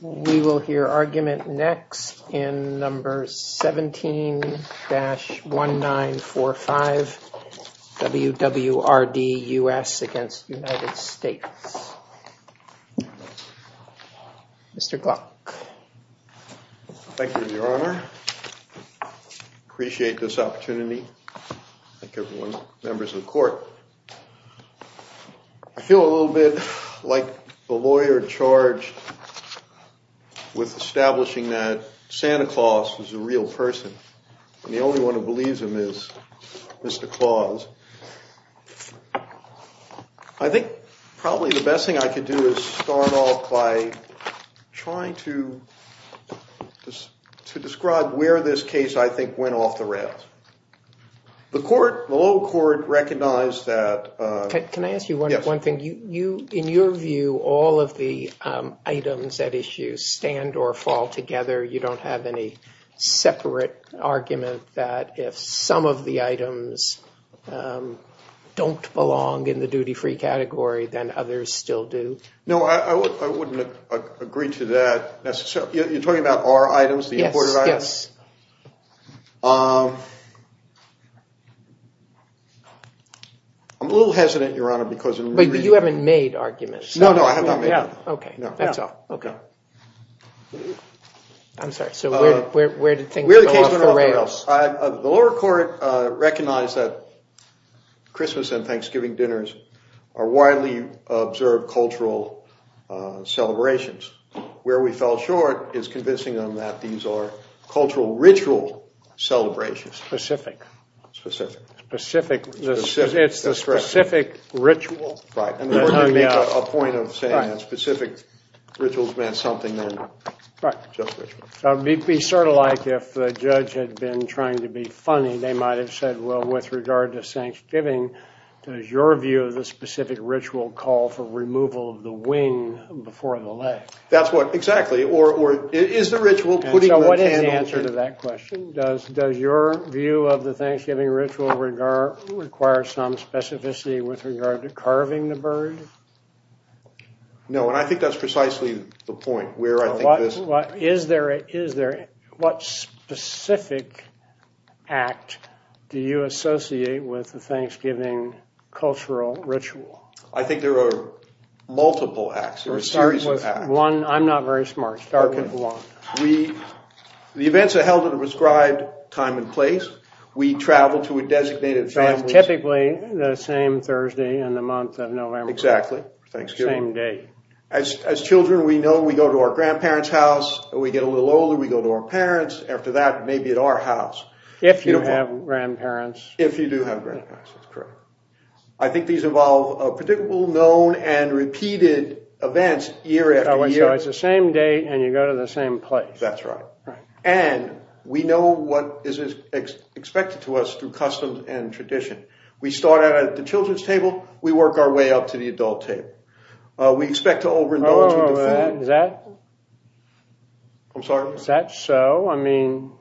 We will hear argument next in number 17. Number 17-1945, WWRD US v. United States. Mr. Gluck. Thank you, Your Honor. I appreciate this opportunity. Thank you, members of the court. I feel a little bit like the lawyer charged with establishing that Santa Claus was a real person, and the only one who believes him is Mr. Claus. I think probably the best thing I could do is start off by trying to describe where this case, I think, went off the rails. Can I ask you one thing? In your view, all of the items at issue stand or fall together? You don't have any separate argument that if some of the items don't belong in the duty-free category, then others still do? No, I wouldn't agree to that. You're talking about our items, the aborted items? Yes. I'm a little hesitant, Your Honor. But you haven't made arguments. No, no, I have not made any. Okay, that's all. I'm sorry, so where did things go off the rails? The lower court recognized that Christmas and Thanksgiving dinners are widely observed cultural celebrations. Where we fell short is convincing them that these are cultural ritual celebrations. Specific. Specific. Specific. It's the specific ritual. Right, and we're going to make a point of saying that specific rituals meant something then. Right. It would be sort of like if the judge had been trying to be funny. They might have said, well, with regard to Thanksgiving, does your view of the specific ritual call for removal of the wing before the leg? That's what, exactly. Or is the ritual putting the candle... And so what is the answer to that question? Does your view of the Thanksgiving ritual require some specificity with regard to carving the bird? No, and I think that's precisely the point. What specific act do you associate with the Thanksgiving cultural ritual? I think there are multiple acts. I'm not very smart. Start with one. The events are held at a prescribed time and place. We travel to a designated family... So it's typically the same Thursday and the month of November. Exactly, Thanksgiving. Same date. As children, we know we go to our grandparents' house. We get a little older, we go to our parents. After that, maybe at our house. If you have grandparents. If you do have grandparents, that's correct. I think these involve predictable, known, and repeated events year after year. So it's the same date and you go to the same place. That's right. And we know what is expected to us through customs and tradition. We start out at the children's table. We work our way up to the adult table. We expect to overindulge in the food. Is that so? I mean,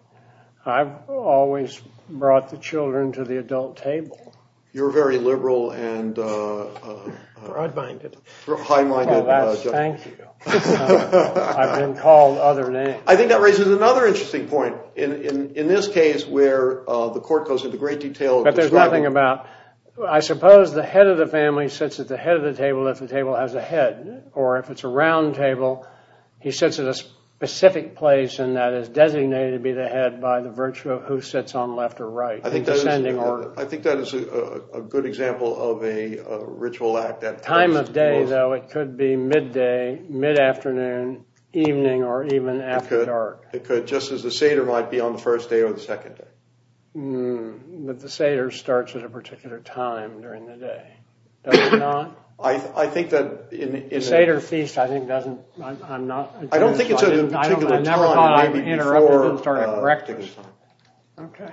I've always brought the children to the adult table. You're a very liberal and... Broad-minded. High-minded. Thank you. I've been called other names. I think that raises another interesting point. In this case, where the court goes into great detail... But there's nothing about... I suppose the head of the family sits at the head of the table if the table has a head. Or if it's a round table, he sits at a specific place and that is designated to be the head by the virtue of who sits on left or right. I think that is a good example of a ritual act. Time of day, though, it could be midday, mid-afternoon, evening, or even after dark. It could. Just as the Seder might be on the first day or the second day. But the Seder starts at a particular time during the day. Does it not? I think that... The Seder feast, I think, doesn't... I don't think it's at a particular time. I never thought it interrupted and started breakfast. Okay.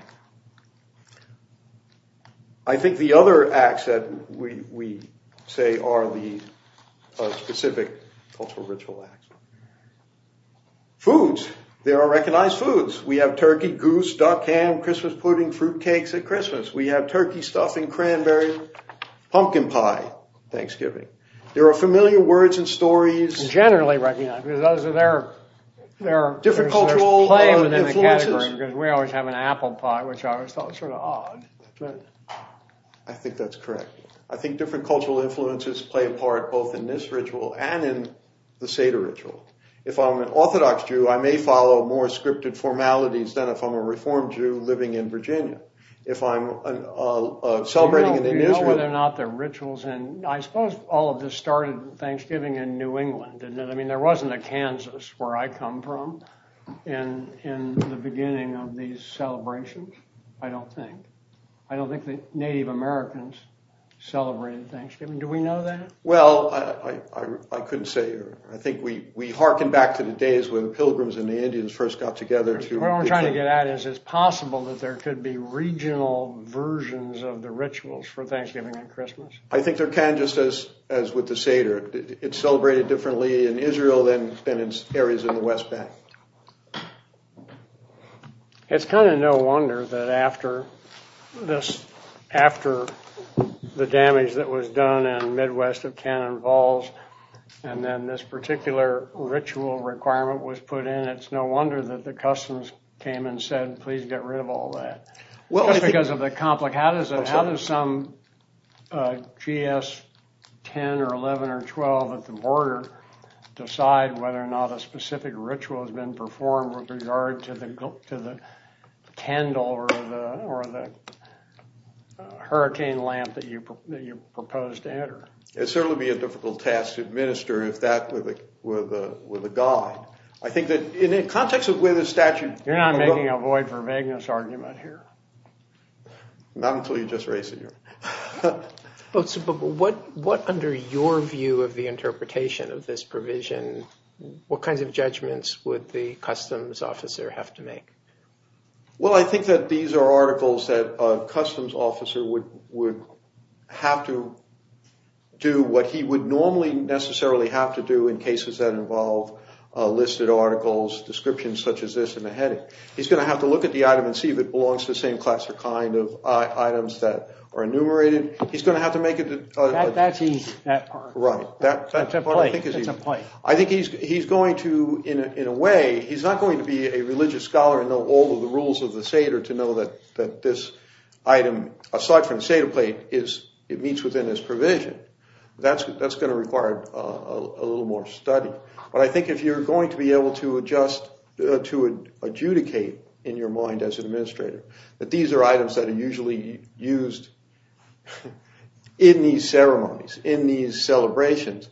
I think the other acts that we say are the specific cultural ritual acts. Foods. There are recognized foods. We have turkey, goose, duck, ham, Christmas pudding, fruit cakes at Christmas. We have turkey stuffing, cranberry, pumpkin pie Thanksgiving. There are familiar words and stories. Generally recognized. Because those are their... Different cultural influences. There's play within the category. Because we always have an apple pie, which I always thought was sort of odd. I think that's correct. I think different cultural influences play a part both in this ritual and in the Seder ritual. If I'm an Orthodox Jew, I may follow more scripted formalities than if I'm a Reformed Jew living in Virginia. If I'm celebrating in New Israel... Do you know whether or not the rituals... And I suppose all of this started Thanksgiving in New England, didn't it? I mean, there wasn't a Kansas where I come from in the beginning of these celebrations, I don't think. I don't think that Native Americans celebrated Thanksgiving. Do we know that? Well, I couldn't say. I think we harken back to the days when pilgrims and the Indians first got together to... What I'm trying to get at is it's possible that there could be regional versions of the rituals for Thanksgiving and Christmas. I think there can, just as with the Seder. It's celebrated differently in Israel than in areas in the West Bank. It's kind of no wonder that after the damage that was done in the Midwest of Cannon Falls and then this particular ritual requirement was put in, it's no wonder that the Customs came and said, please get rid of all that. Just because of the... How does some GS 10 or 11 or 12 at the border decide whether or not a specific ritual has been performed with regard to the candle or the hurricane lamp that you propose to enter? It would certainly be a difficult task to administer if that were the guide. I think that in the context of where the statute... You're not making a void for vagueness argument here. Not until you just raise it here. But what under your view of the interpretation of this provision, what kinds of judgments would the Customs officer have to make? Well, I think that these are articles that a Customs officer would have to do what he would normally necessarily have to do in cases that involve listed articles, descriptions such as this in the heading. He's going to have to look at the item and see if it belongs to the same class or kind of items that are enumerated. He's going to have to make it... That's easy. Right. That's a point. I think he's going to, in a way, he's not going to be a religious scholar and know all of the rules of the Seder to know that this item, aside from the Seder plate, it meets within this provision. That's going to require a little more study. But I think if you're going to be able to adjudicate in your mind as an administrator that these are items that are usually used in these ceremonies, in these celebrations,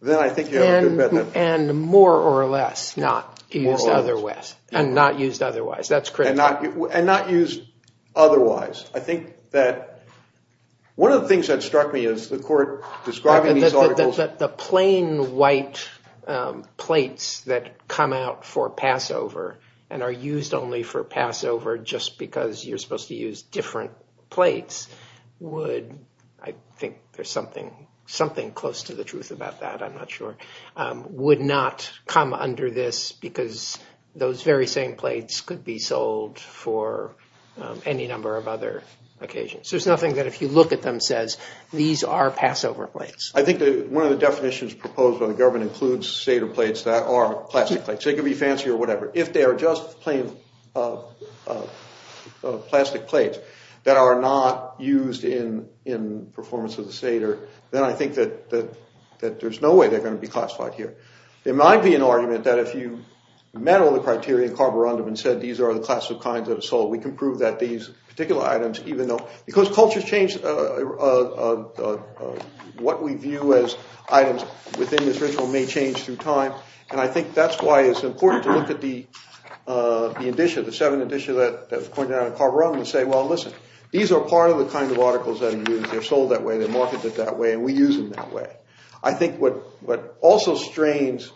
then I think you have a good bet. And more or less not used otherwise. And not used otherwise. That's correct. And not used otherwise. I think that one of the things that struck me as the court describing these articles... was that the plain white plates that come out for Passover and are used only for Passover just because you're supposed to use different plates would, I think there's something close to the truth about that, I'm not sure, would not come under this because those very same plates could be sold for any number of other occasions. There's nothing that if you look at them says, these are Passover plates. I think that one of the definitions proposed by the government includes Seder plates that are plastic plates. They could be fancy or whatever. If they are just plain plastic plates that are not used in performance of the Seder, then I think that there's no way they're going to be classified here. There might be an argument that if you met all the criteria in carborundum and said these are the class of kinds that are sold, we can prove that these particular items even though... because cultures change what we view as items within this ritual may change through time. And I think that's why it's important to look at the edition, the seven edition that's pointed out in carborundum and say, well, listen, these are part of the kind of articles that are used. They're sold that way. They're marketed that way. And we use them that way. I think what also strains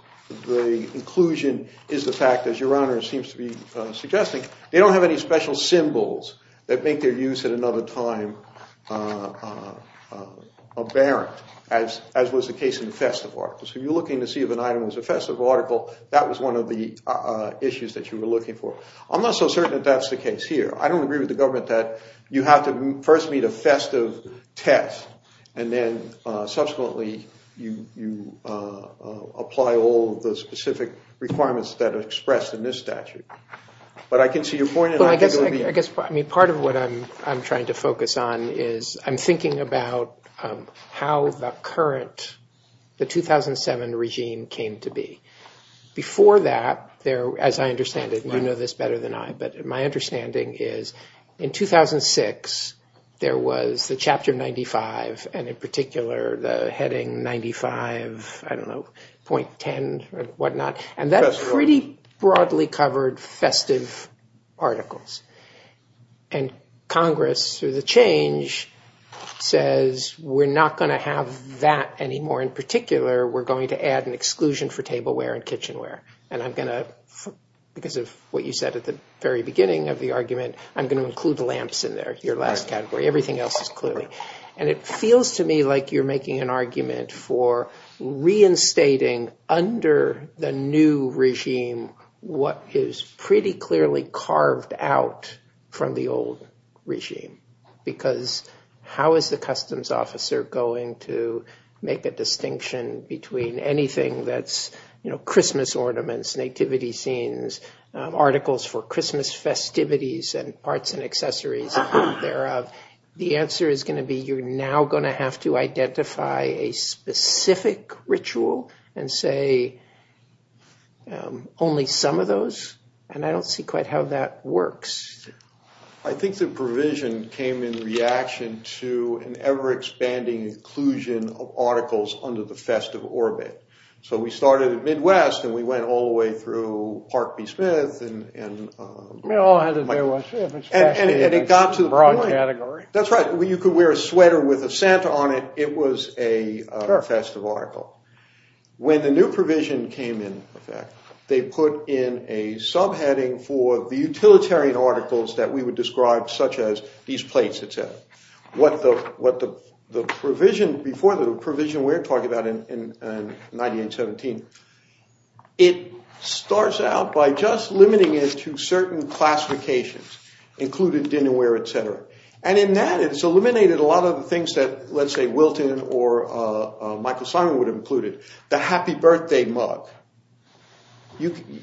the inclusion is the fact, as Your Honor seems to be suggesting, they don't have any special symbols that make their use at another time apparent as was the case in festive articles. If you're looking to see if an item was a festive article, that was one of the issues that you were looking for. I'm not so certain that that's the case here. I don't agree with the government that you have to first meet a festive test and then subsequently you apply all of the specific requirements that are expressed in this statute. But I can see your point and I can go to the end. I guess part of what I'm trying to focus on is I'm thinking about how the current, the 2007 regime came to be. Before that, as I understand it, you know this better than I, but my understanding is in 2006 there was the chapter 95 and, in particular, the heading 95, I don't know, .10 or whatnot. And that pretty broadly covered festive articles. And Congress, through the change, says we're not going to have that anymore. In particular, we're going to add an exclusion for tableware and kitchenware. And I'm going to, because of what you said at the very beginning of the argument, I'm going to include lamps in there, your last category. Everything else is clearly. And it feels to me like you're making an argument for reinstating under the new regime what is pretty clearly carved out from the old regime. Because how is the customs officer going to make a distinction between anything that's, you know, Christmas ornaments, nativity scenes, articles for Christmas festivities, and parts and accessories thereof? The answer is going to be you're now going to have to identify a specific ritual and say only some of those. And I don't see quite how that works. I think the provision came in reaction to an ever-expanding inclusion of articles under the festive orbit. So we started at Midwest and we went all the way through Park B. Smith. And it got to the point. That's right. You could wear a sweater with a Santa on it. It was a festive article. When the new provision came in, in fact, they put in a subheading for the utilitarian articles that we would describe, such as these plates, et cetera. What the provision, before the provision we were talking about in 1917, it starts out by just limiting it to certain classifications, including dinnerware, et cetera. And in that it's eliminated a lot of the things that, let's say, Wilton or Michael Simon would have included. The happy birthday mug.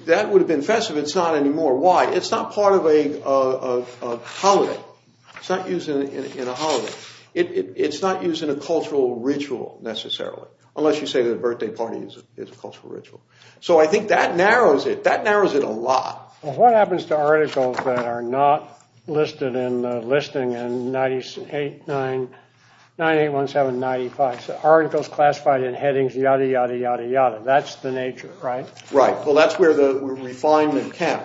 That would have been festive. It's not anymore. Why? It's not part of a holiday. It's not used in a holiday. It's not used in a cultural ritual necessarily, unless you say that a birthday party is a cultural ritual. So I think that narrows it. That narrows it a lot. Well, what happens to articles that are not listed in the listing in 981795? So articles classified in headings yada, yada, yada, yada. That's the nature, right? Right. Well, that's where the refinement came.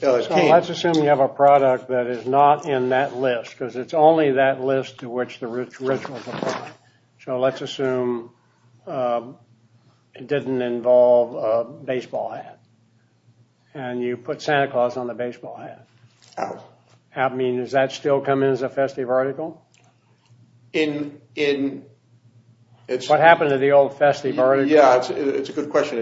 So let's assume you have a product that is not in that list because it's only that list to which the rituals apply. So let's assume it didn't involve a baseball hat. And you put Santa Claus on the baseball hat. Oh. I mean, does that still come in as a festive article? In... What happened to the old festive article? Yeah, it's a good question.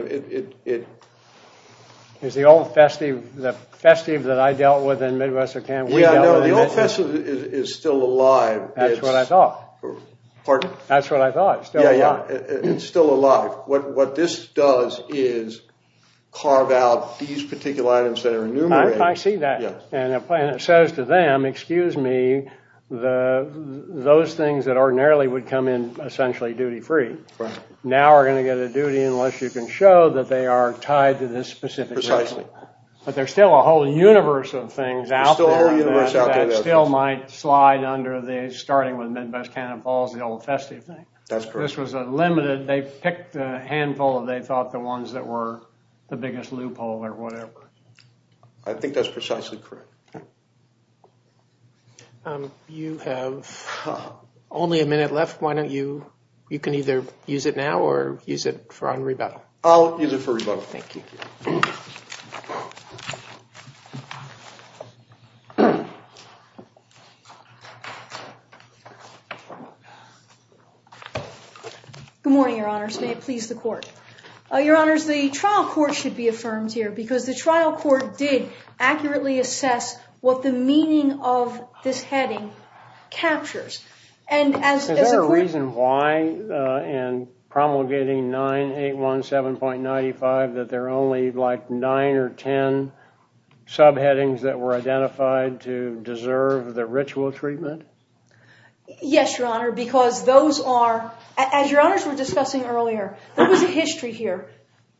Is the old festive, the festive that I dealt with in Midwestern Canada... Yeah, no, the old festive is still alive. That's what I thought. That's what I thought. It's still alive. It's still alive. What this does is carve out these particular items that are enumerated. I see that. And it says to them, excuse me, those things that ordinarily would come in essentially duty-free now are going to get a duty unless you can show that they are tied to this specific ritual. Precisely. But there's still a whole universe of things out there that still might slide under the... starting with Midwest Canada Falls, the old festive thing. That's correct. This was a limited... They picked a handful of, they thought, the ones that were the biggest loophole or whatever. I think that's precisely correct. You have only a minute left. Why don't you... You can either use it now or use it on rebuttal. I'll use it for rebuttal. Thank you. Good morning, Your Honors. May it please the Court. Your Honors, the trial court should be affirmed here because the trial court did accurately assess what the meaning of this heading captures. Is there a reason why in promulgating 9817.95 that there are only like nine or ten subheadings that were identified to be of significance? To deserve the ritual treatment? Yes, Your Honor, because those are... As Your Honors were discussing earlier, there was a history here.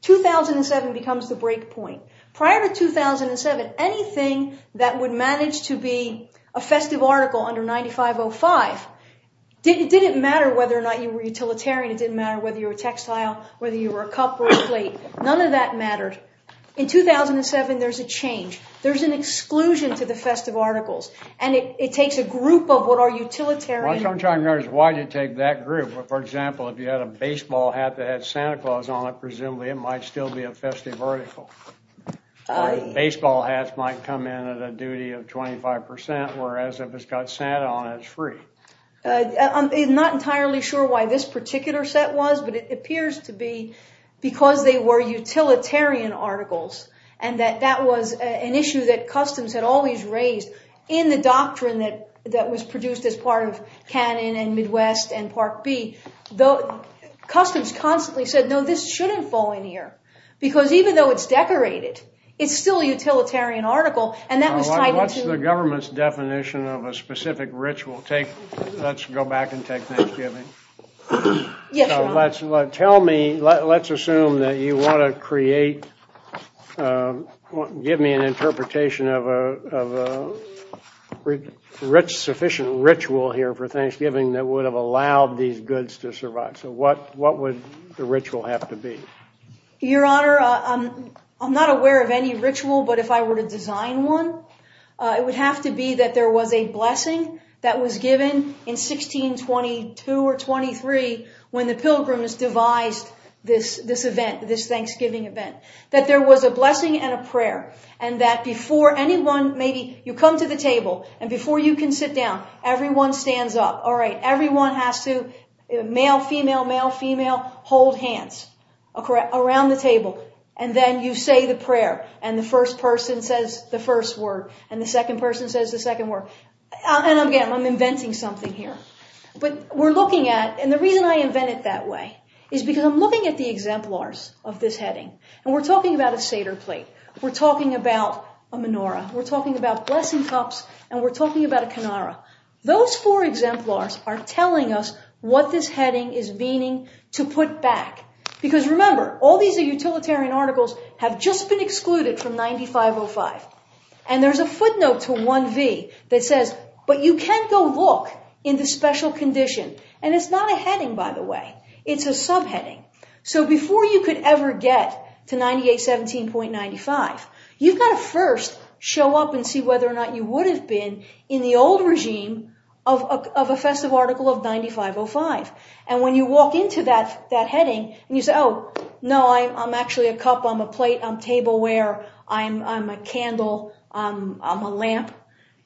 2007 becomes the breakpoint. Prior to 2007, anything that would manage to be a festive article under 9505, it didn't matter whether or not you were utilitarian, it didn't matter whether you were a textile, whether you were a cup or a plate. None of that mattered. In 2007, there's a change. There's an exclusion to the festive articles, and it takes a group of what are utilitarian... What I'm trying to understand is why did it take that group? For example, if you had a baseball hat that had Santa Claus on it, presumably it might still be a festive article. Baseball hats might come in at a duty of 25%, whereas if it's got Santa on it, it's free. I'm not entirely sure why this particular set was, but it appears to be because they were utilitarian articles and that that was an issue that customs had always raised in the doctrine that was produced as part of Cannon and Midwest and Park B. Customs constantly said, no, this shouldn't fall in here because even though it's decorated, it's still a utilitarian article, and that was tied into... What's the government's definition of a specific ritual? Let's go back and take Thanksgiving. Yes, Your Honor. Let's assume that you want to create... Give me an interpretation of a sufficient ritual here for Thanksgiving that would have allowed these goods to survive. So what would the ritual have to be? Your Honor, I'm not aware of any ritual, but if I were to design one, it would have to be that there was a blessing that was given in 1622 or 1623 when the pilgrims devised this event, this Thanksgiving event, that there was a blessing and a prayer and that before anyone, maybe you come to the table, and before you can sit down, everyone stands up. All right, everyone has to, male, female, male, female, hold hands around the table, and then you say the prayer, and the first person says the first word, and the second person says the second word. And again, I'm inventing something here. But we're looking at, and the reason I invent it that way is because I'm looking at the exemplars of this heading, and we're talking about a Seder plate. We're talking about a menorah. We're talking about blessing cups, and we're talking about a canara. Those four exemplars are telling us what this heading is meaning to put back because remember, all these utilitarian articles have just been excluded from 9505, and there's a footnote to 1V that says, but you can't go look in the special condition, and it's not a heading, by the way. It's a subheading. So before you could ever get to 9817.95, you've got to first show up and see whether or not you would have been in the old regime of a festive article of 9505, and when you walk into that heading, and you say, oh, no, I'm actually a cup. I'm a plate. I'm tableware. I'm a candle. I'm a lamp.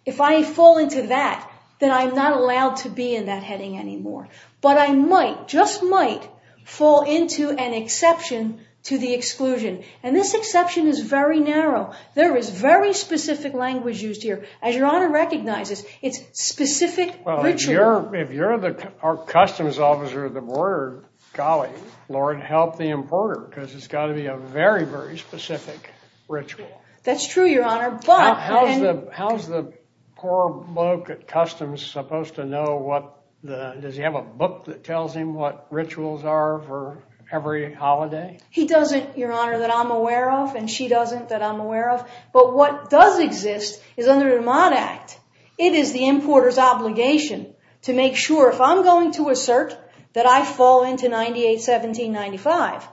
If I fall into that, then I'm not allowed to be in that heading anymore, but I might, just might, fall into an exception to the exclusion, and this exception is very narrow. There is very specific language used here. As Your Honor recognizes, it's specific ritual. Well, if you're our customs officer at the border, golly, Lord, help the importer because it's got to be a very, very specific ritual. That's true, Your Honor, but... How is the poor bloke at customs supposed to know what the... Does he have a book that tells him what rituals are for every holiday? He doesn't, Your Honor, that I'm aware of, and she doesn't that I'm aware of, but what does exist is under the Remod Act. It is the importer's obligation to make sure if I'm going to assert that I fall into 981795,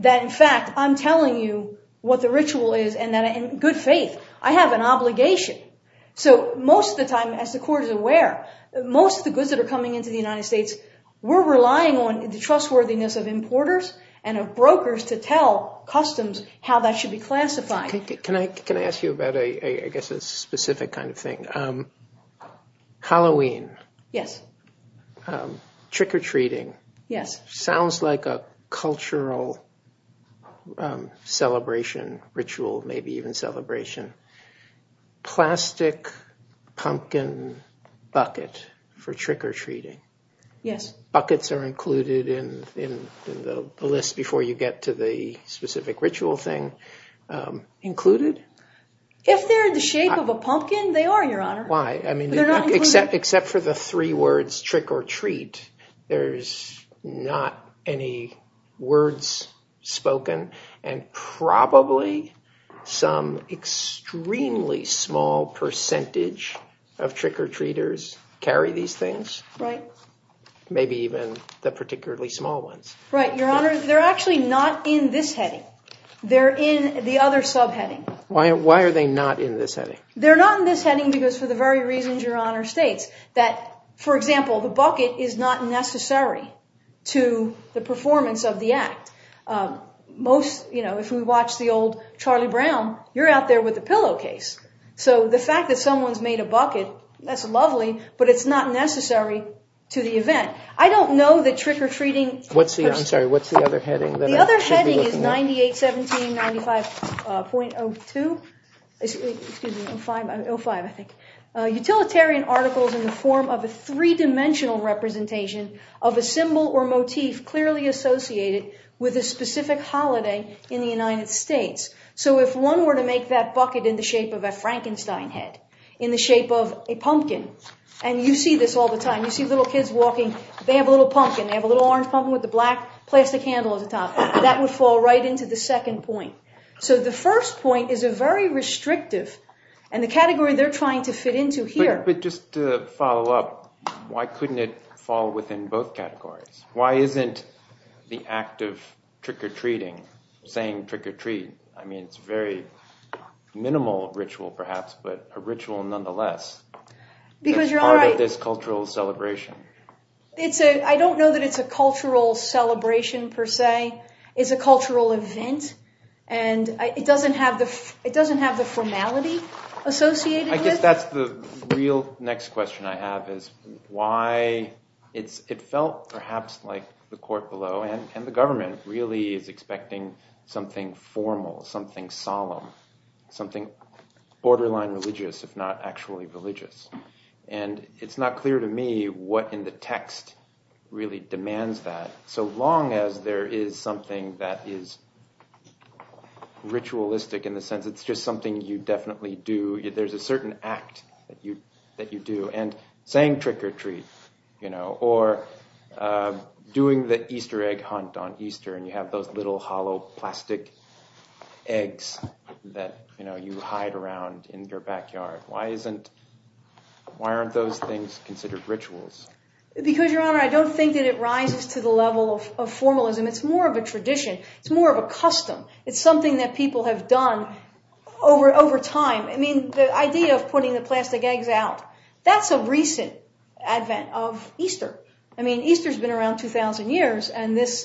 that in fact I'm telling you what the ritual is in good faith. I have an obligation. So most of the time, as the Court is aware, most of the goods that are coming into the United States, we're relying on the trustworthiness of importers and of brokers to tell customs how that should be classified. Can I ask you about, I guess, a specific kind of thing? Halloween. Yes. Trick-or-treating. Yes. Sounds like a cultural celebration, ritual, maybe even celebration. Plastic pumpkin bucket for trick-or-treating. Yes. Buckets are included in the list before you get to the specific ritual thing. Included? If they're in the shape of a pumpkin, they are, Your Honor. Why? Except for the three words, trick or treat, there's not any words spoken, and probably some extremely small percentage of trick-or-treaters carry these things. Right. Maybe even the particularly small ones. Right, Your Honor. They're actually not in this heading. They're in the other subheading. Why are they not in this heading? They're not in this heading because for the very reasons Your Honor states, for example, the bucket is not necessary to the performance of the act. If we watch the old Charlie Brown, you're out there with the pillowcase. So the fact that someone's made a bucket, that's lovely, but it's not necessary to the event. I don't know that trick-or-treating... I'm sorry, what's the other heading? The other heading is 98, 17, 95.02. Excuse me, 05, I think. Utilitarian articles in the form of a three-dimensional representation of a symbol or motif clearly associated with a specific holiday in the United States. So if one were to make that bucket in the shape of a Frankenstein head, in the shape of a pumpkin, and you see this all the time, you see little kids walking, they have a little pumpkin, they have a little orange pumpkin with the black plastic handle at the top. That would fall right into the second point. So the first point is a very restrictive, and the category they're trying to fit into here... But just to follow up, why couldn't it fall within both categories? Why isn't the act of trick-or-treating, saying trick-or-treat, I mean, it's a very minimal ritual perhaps, but a ritual nonetheless, part of this cultural celebration. I don't know that it's a cultural celebration per se. It's a cultural event, and it doesn't have the formality associated with it. I guess that's the real next question I have, is why it felt perhaps like the court below, and the government, really is expecting something formal, something solemn, something borderline religious, if not actually religious. And it's not clear to me what in the text really demands that, so long as there is something that is ritualistic in the sense that it's just something you definitely do. There's a certain act that you do, and saying trick-or-treat, or doing the Easter egg hunt on Easter, and you have those little hollow plastic eggs that you hide around in your backyard. Why aren't those things considered rituals? Because, Your Honor, I don't think that it rises to the level of formalism. It's more of a tradition. It's more of a custom. It's something that people have done over time. I mean, the idea of putting the plastic eggs out, that's a recent advent of Easter. I mean, Easter's been around 2,000 years, and this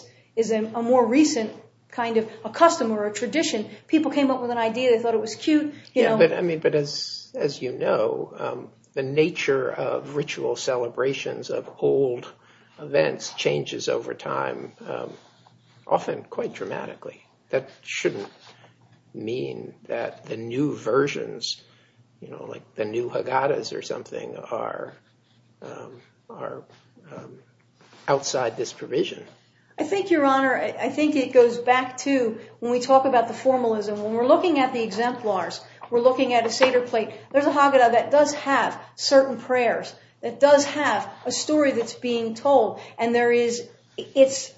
is a more recent kind of a custom, or a tradition. People came up with an idea, they thought it was cute. Yeah, but as you know, the nature of ritual celebrations, of old events, changes over time, often quite dramatically. That shouldn't mean that the new versions, like the new Haggadahs or something, are outside this provision. I think, Your Honor, I think it goes back to when we talk about the formalism, when we're looking at the exemplars, we're looking at a Seder plate, there's a Haggadah that does have certain prayers, that does have a story that's being told, and it's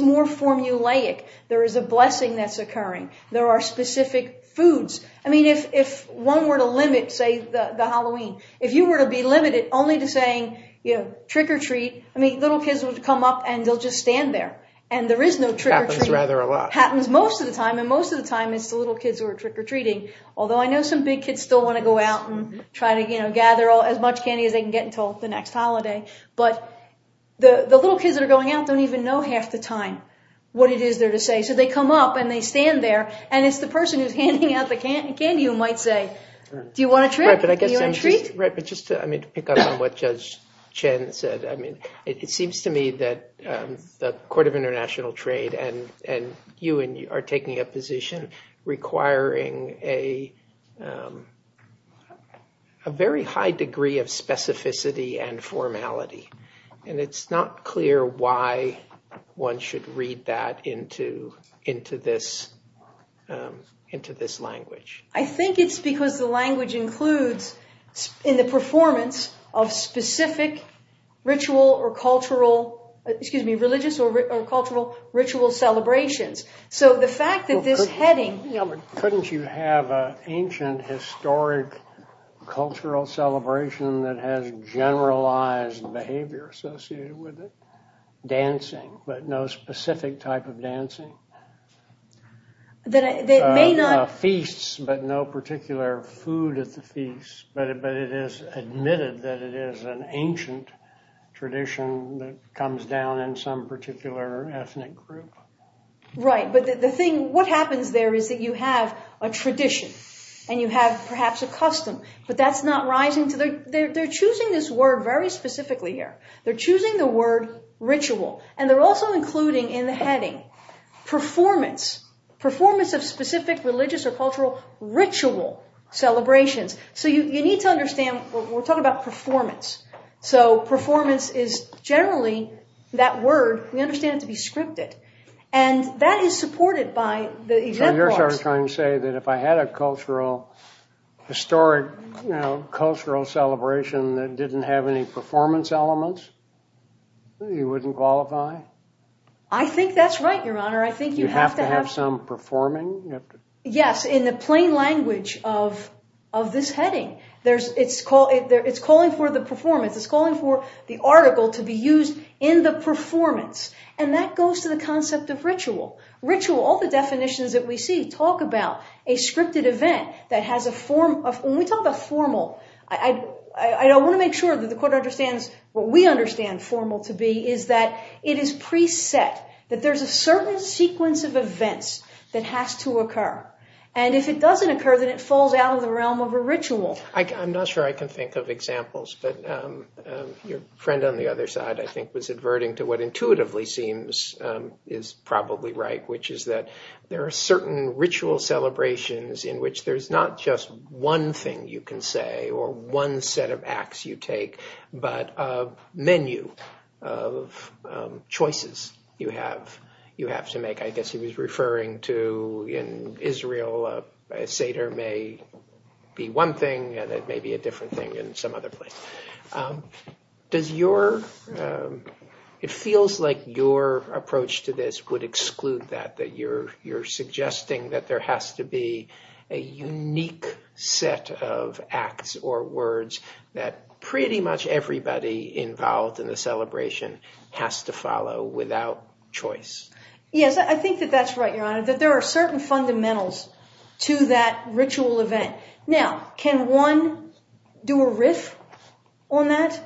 more formulaic. There is a blessing that's occurring. There are specific foods. I mean, if one were to limit, say, the Halloween, if you were to be limited only to saying, you know, trick-or-treat, I mean, little kids would come up, and they'll just stand there, and there is no trick-or-treat. Happens rather a lot. Happens most of the time, and most of the time, it's the little kids who are trick-or-treating. Although I know some big kids still want to go out and try to, you know, gather as much candy as they can get until the next holiday, but the little kids that are going out don't even know half the time what it is they're to say, so they come up, and they stand there, and it's the person who's handing out the candy who might say, do you want a trick? Do you want a treat? Right, but just to, I mean, to pick up on what Judge Chen said, I mean, it seems to me that the Court of International Trade and you are taking a position requiring a a very high degree of specificity and formality, and it's not clear why one should read that into this language. I think it's because the language includes in the performance of specific ritual or cultural, excuse me, religious or cultural ritual celebrations, so the fact that this heading... Couldn't you have an ancient, historic, cultural celebration that has generalized behavior associated with it? Dancing, but no specific type of dancing. That may not... Feasts, but no particular food at the feasts, but it is admitted that it is an ancient tradition that comes down in some particular ethnic group. Right, but the thing, what happens there is that you have a tradition, and you have perhaps a custom, but that's not rising to the... They're choosing this word very specifically here. They're choosing the word ritual, and they're also including in the heading performance, performance of specific religious or cultural ritual celebrations, so you need to understand, we're talking about performance, so performance is generally that word, we understand it to be scripted, and that is supported by... So you're trying to say that if I had a cultural, historic, cultural celebration that didn't have any performance elements, you wouldn't qualify? I think that's right, Your Honor, I think you have to have... You have to have some performing? Yes, in the plain language of this heading, it's calling for the performance, it's calling for the article to be used in the performance, and that goes to the concept of ritual. Ritual, all the definitions that we see talk about a scripted event that has a form of... When we talk about formal, I want to make sure that the Court understands what we understand formal to be, is that it is preset, that there's a certain sequence of events that has to occur, and if it doesn't occur, then it falls out of the realm of a ritual. I'm not sure I can think of examples, but your friend on the other side, I think, was adverting to what intuitively seems is probably right, which is that there are certain ritual celebrations in which there's not just one thing you can say or one set of acts you take, but a menu of choices you have to make. I guess he was referring to, in Israel, a Seder may be one thing and it may be a different thing in some other place. It feels like your approach to this would exclude that, that you're suggesting that there has to be a unique set of acts or words that pretty much everybody involved in the celebration has to follow without choice. Yes, I think that that's right, Your Honor, that there are certain fundamentals to that ritual event. Now, can one do a riff on that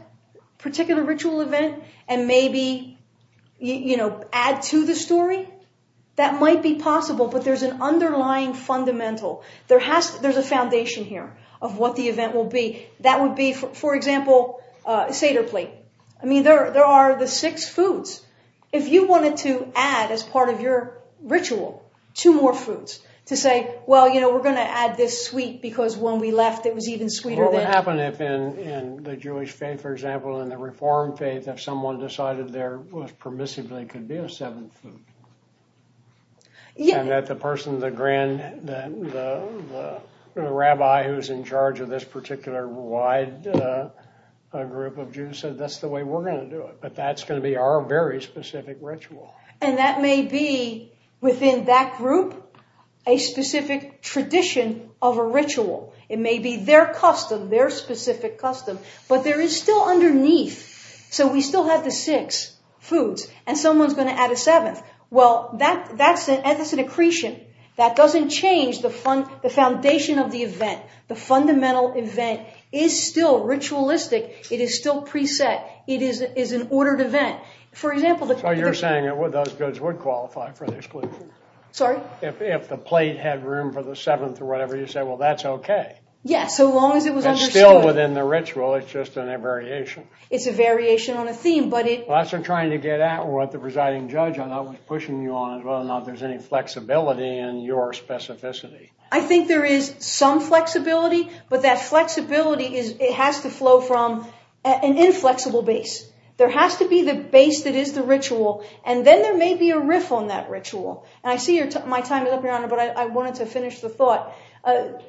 particular ritual event and maybe add to the story? That might be possible, but there's an underlying fundamental. There's a foundation here of what the event will be. That would be, for example, Seder plate. I mean, there are the six foods. If you wanted to add, as part of your ritual, two more foods to say, well, we're going to add this sweet because when we left it was even sweeter. What would happen if, in the Jewish faith, for example, in the Reformed faith, if someone decided there was permissibly could be a seventh food? And that the person, the Rabbi who's in charge of this particular wide group of Jews said that's the way we're going to do it. But that's going to be our very specific ritual. And that may be, within that group, a specific tradition of a ritual. It may be their custom, their specific custom, but there is still underneath. So we still have the six foods and someone's going to add a seventh. Well, that's an accretion. That doesn't change the foundation of the event. The fundamental event is still ritualistic. It is still preset. It is an ordered event. So you're saying those goods would qualify for the exclusion? Sorry? If the plate had room for the seventh or whatever, you say, well, that's okay. Yes, so long as it was understood. It's still within the ritual. It's just in a variation. It's a variation on a theme, but it... Well, that's what I'm trying to get at with the presiding judge. I'm not pushing you on whether or not there's any flexibility in your specificity. I think there is some flexibility, but that flexibility has to flow from an inflexible base. There has to be the base that is the ritual, and then there may be a riff on that ritual. And I see my time is up, Your Honor, but I wanted to finish the thought.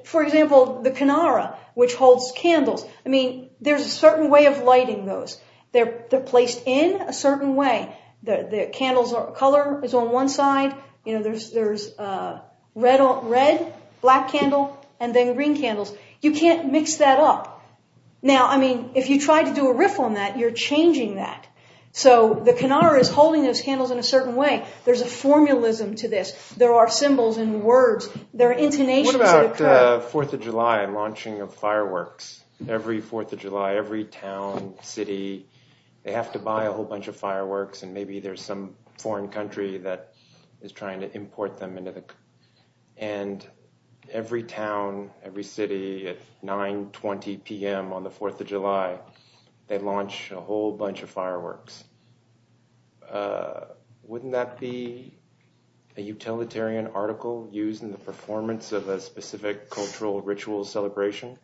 For example, the canara, which holds candles. I mean, there's a certain way of lighting those. They're placed in a certain way. The candle's color is on one side. You know, there's red, black candle, and then green candles. You can't mix that up. Now, I mean, if you try to do a riff on that, you're changing that. So the canara is holding those candles in a certain way. There's a formulism to this. There are symbols and words. What about 4th of July and launching of fireworks? Every 4th of July, every town, city, they have to buy a whole bunch of fireworks, and maybe there's some foreign country that is trying to import them. And every town, every city, at 9.20 PM on the 4th of July, they launch a whole bunch of fireworks. Wouldn't that be a utilitarian article used in the performance of a specific cultural ritual celebration?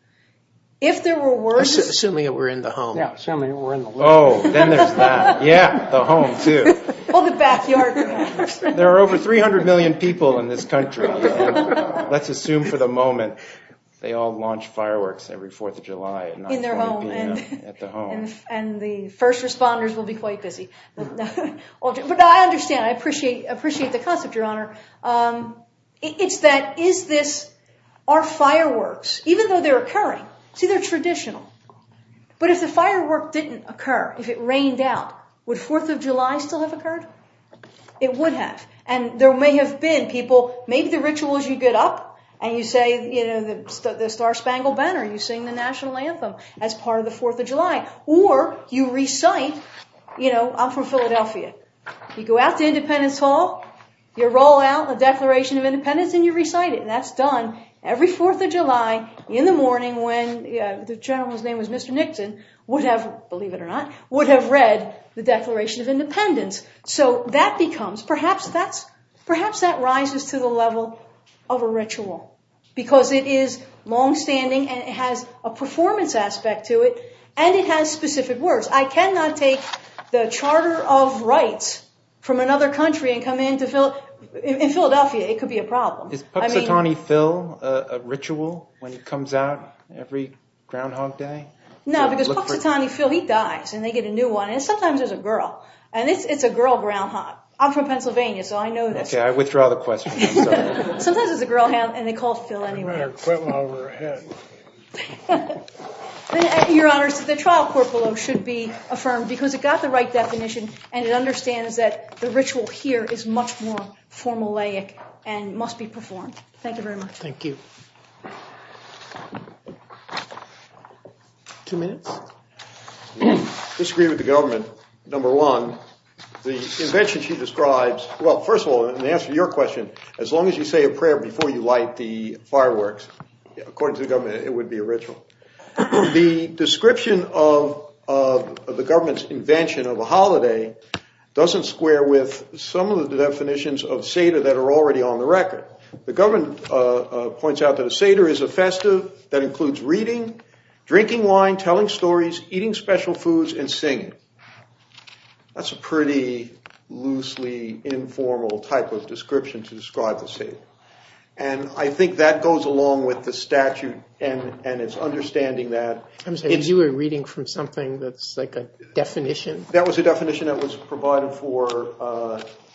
If there were worse? Assuming it were in the home. Yeah, assuming it were in the home. Oh, then there's that. Yeah, the home, too. Or the backyard. There are over 300 million people in this country. Let's assume for the moment they all launch fireworks every 4th of July. In their home. At the home. And the first responders will be quite busy. But I understand. I appreciate the concept, Your Honor. It's that, is this, are fireworks, even though they're occurring, see, they're traditional. But if the firework didn't occur, if it rained out, would 4th of July still have occurred? It would have. And there may have been people, maybe the rituals you get up and you say, you know, the Star Spangled Banner, you sing the national anthem as part of the 4th of July. Or you recite, you know, I'm from Philadelphia. You go out to Independence Hall. You roll out the Declaration of Independence and you recite it. And that's done every 4th of July in the morning when the gentleman's name was Mr. Nixon would have, believe it or not, would have read the Declaration of Independence. So that becomes, perhaps that rises to the level of a ritual. Because it is longstanding and it has a performance aspect to it. And it has specific words. I cannot take the Charter of Rights from another country and come in to Philadelphia. It could be a problem. Is Paxitani Phil a ritual when he comes out every Groundhog Day? No, because Paxitani Phil, he dies and they get a new one. And sometimes there's a girl. And it's a girl groundhog. I'm from Pennsylvania, so I know this. Okay, I withdraw the question. Sometimes there's a girl and they call Phil anyway. I better quit while we're ahead. Your Honor, the trial court below should be affirmed because it got the right definition and it understands that the ritual here is much more formulaic and must be performed. Thank you very much. Thank you. Two minutes. Disagree with the government, number one. The invention she describes, well, first of all, in answer to your question, as long as you say a prayer before you light the fireworks, according to the government, it would be a ritual. The description of the government's invention of a holiday doesn't square with some of the definitions of Seder that are already on the record. The government points out that a Seder is a festive that includes reading, drinking wine, telling stories, eating special foods, and singing. That's a pretty loosely informal type of description to describe the Seder. And I think that goes along with the statute and its understanding that it's... You were reading from something that's like a definition? That was a definition that was provided for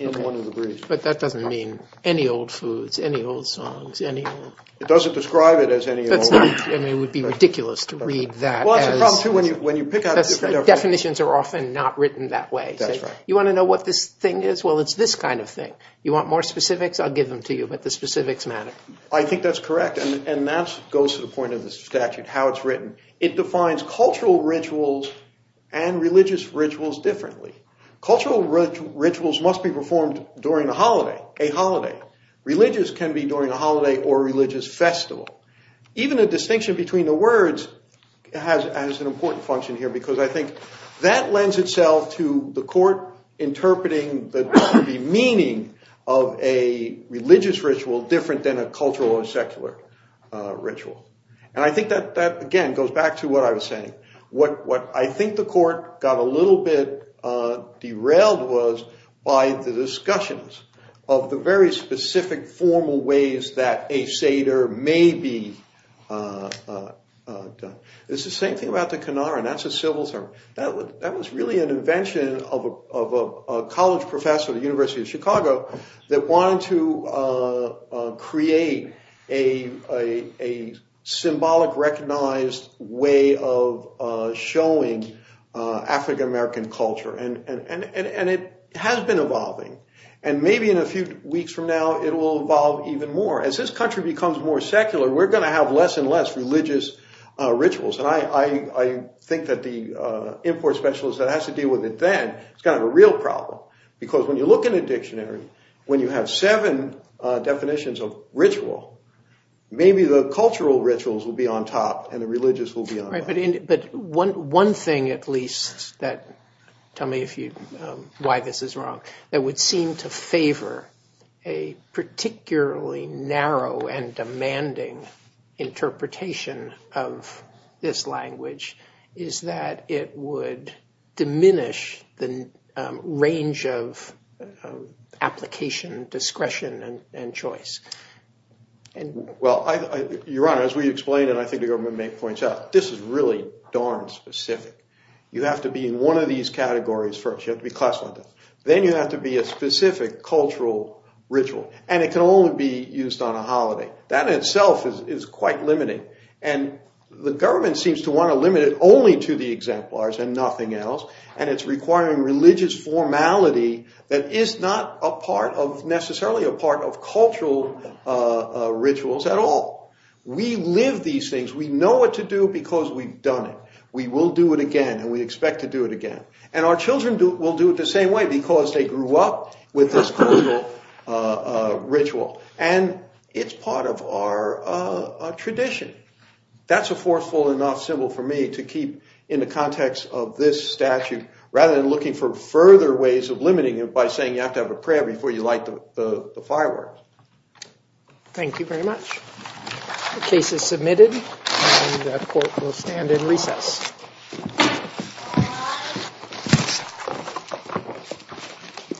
in one of the briefs. But that doesn't mean any old foods, any old songs, any old... It doesn't describe it as any old... I mean, it would be ridiculous to read that as... Well, that's the problem, too. When you pick out different definitions... Definitions are often not written that way. That's right. You want to know what this thing is? Well, it's this kind of thing. You want more specifics? I'll give them to you, but the specifics matter. I think that's correct, and that goes to the point of the statute, how it's written. It defines cultural rituals and religious rituals differently. Cultural rituals must be performed during a holiday, a holiday. Religious can be during a holiday or religious festival. Even a distinction between the words has an important function here because I think that lends itself to the court interpreting the meaning of a religious ritual different than a cultural or secular ritual. And I think that, again, goes back to what I was saying. What I think the court got a little bit derailed was by the discussions of the very specific formal ways that a Seder may be done. It's the same thing about the Qunar, and that's a civil term. That was really an invention of a college professor at the University of Chicago that wanted to create a symbolic recognized way of showing African-American culture, and it has been evolving, and maybe in a few weeks from now it will evolve even more. As this country becomes more secular, we're going to have less and less religious rituals, and I think that the import specialist that has to deal with it then is kind of a real problem because when you look in a dictionary, when you have seven definitions of ritual, maybe the cultural rituals will be on top and the religious will be on top. Right, but one thing at least that—tell me why this is wrong— that would seem to favor a particularly narrow and demanding interpretation of this language is that it would diminish the range of application, discretion, and choice. Well, Your Honor, as we explained, and I think the government may point out, this is really darn specific. You have to be in one of these categories first. You have to be classified. Then you have to be a specific cultural ritual, and it can only be used on a holiday. That in itself is quite limiting, and the government seems to want to limit it only to the exemplars and nothing else, and it's requiring religious formality that is not necessarily a part of cultural rituals at all. We live these things. We know what to do because we've done it. We will do it again, and we expect to do it again, and our children will do it the same way because they grew up with this cultural ritual, and it's part of our tradition. That's a forceful enough symbol for me to keep in the context of this statute rather than looking for further ways of limiting it by saying you have to have a prayer before you light the fireworks. Thank you very much. The case is submitted, and the court will stand in recess.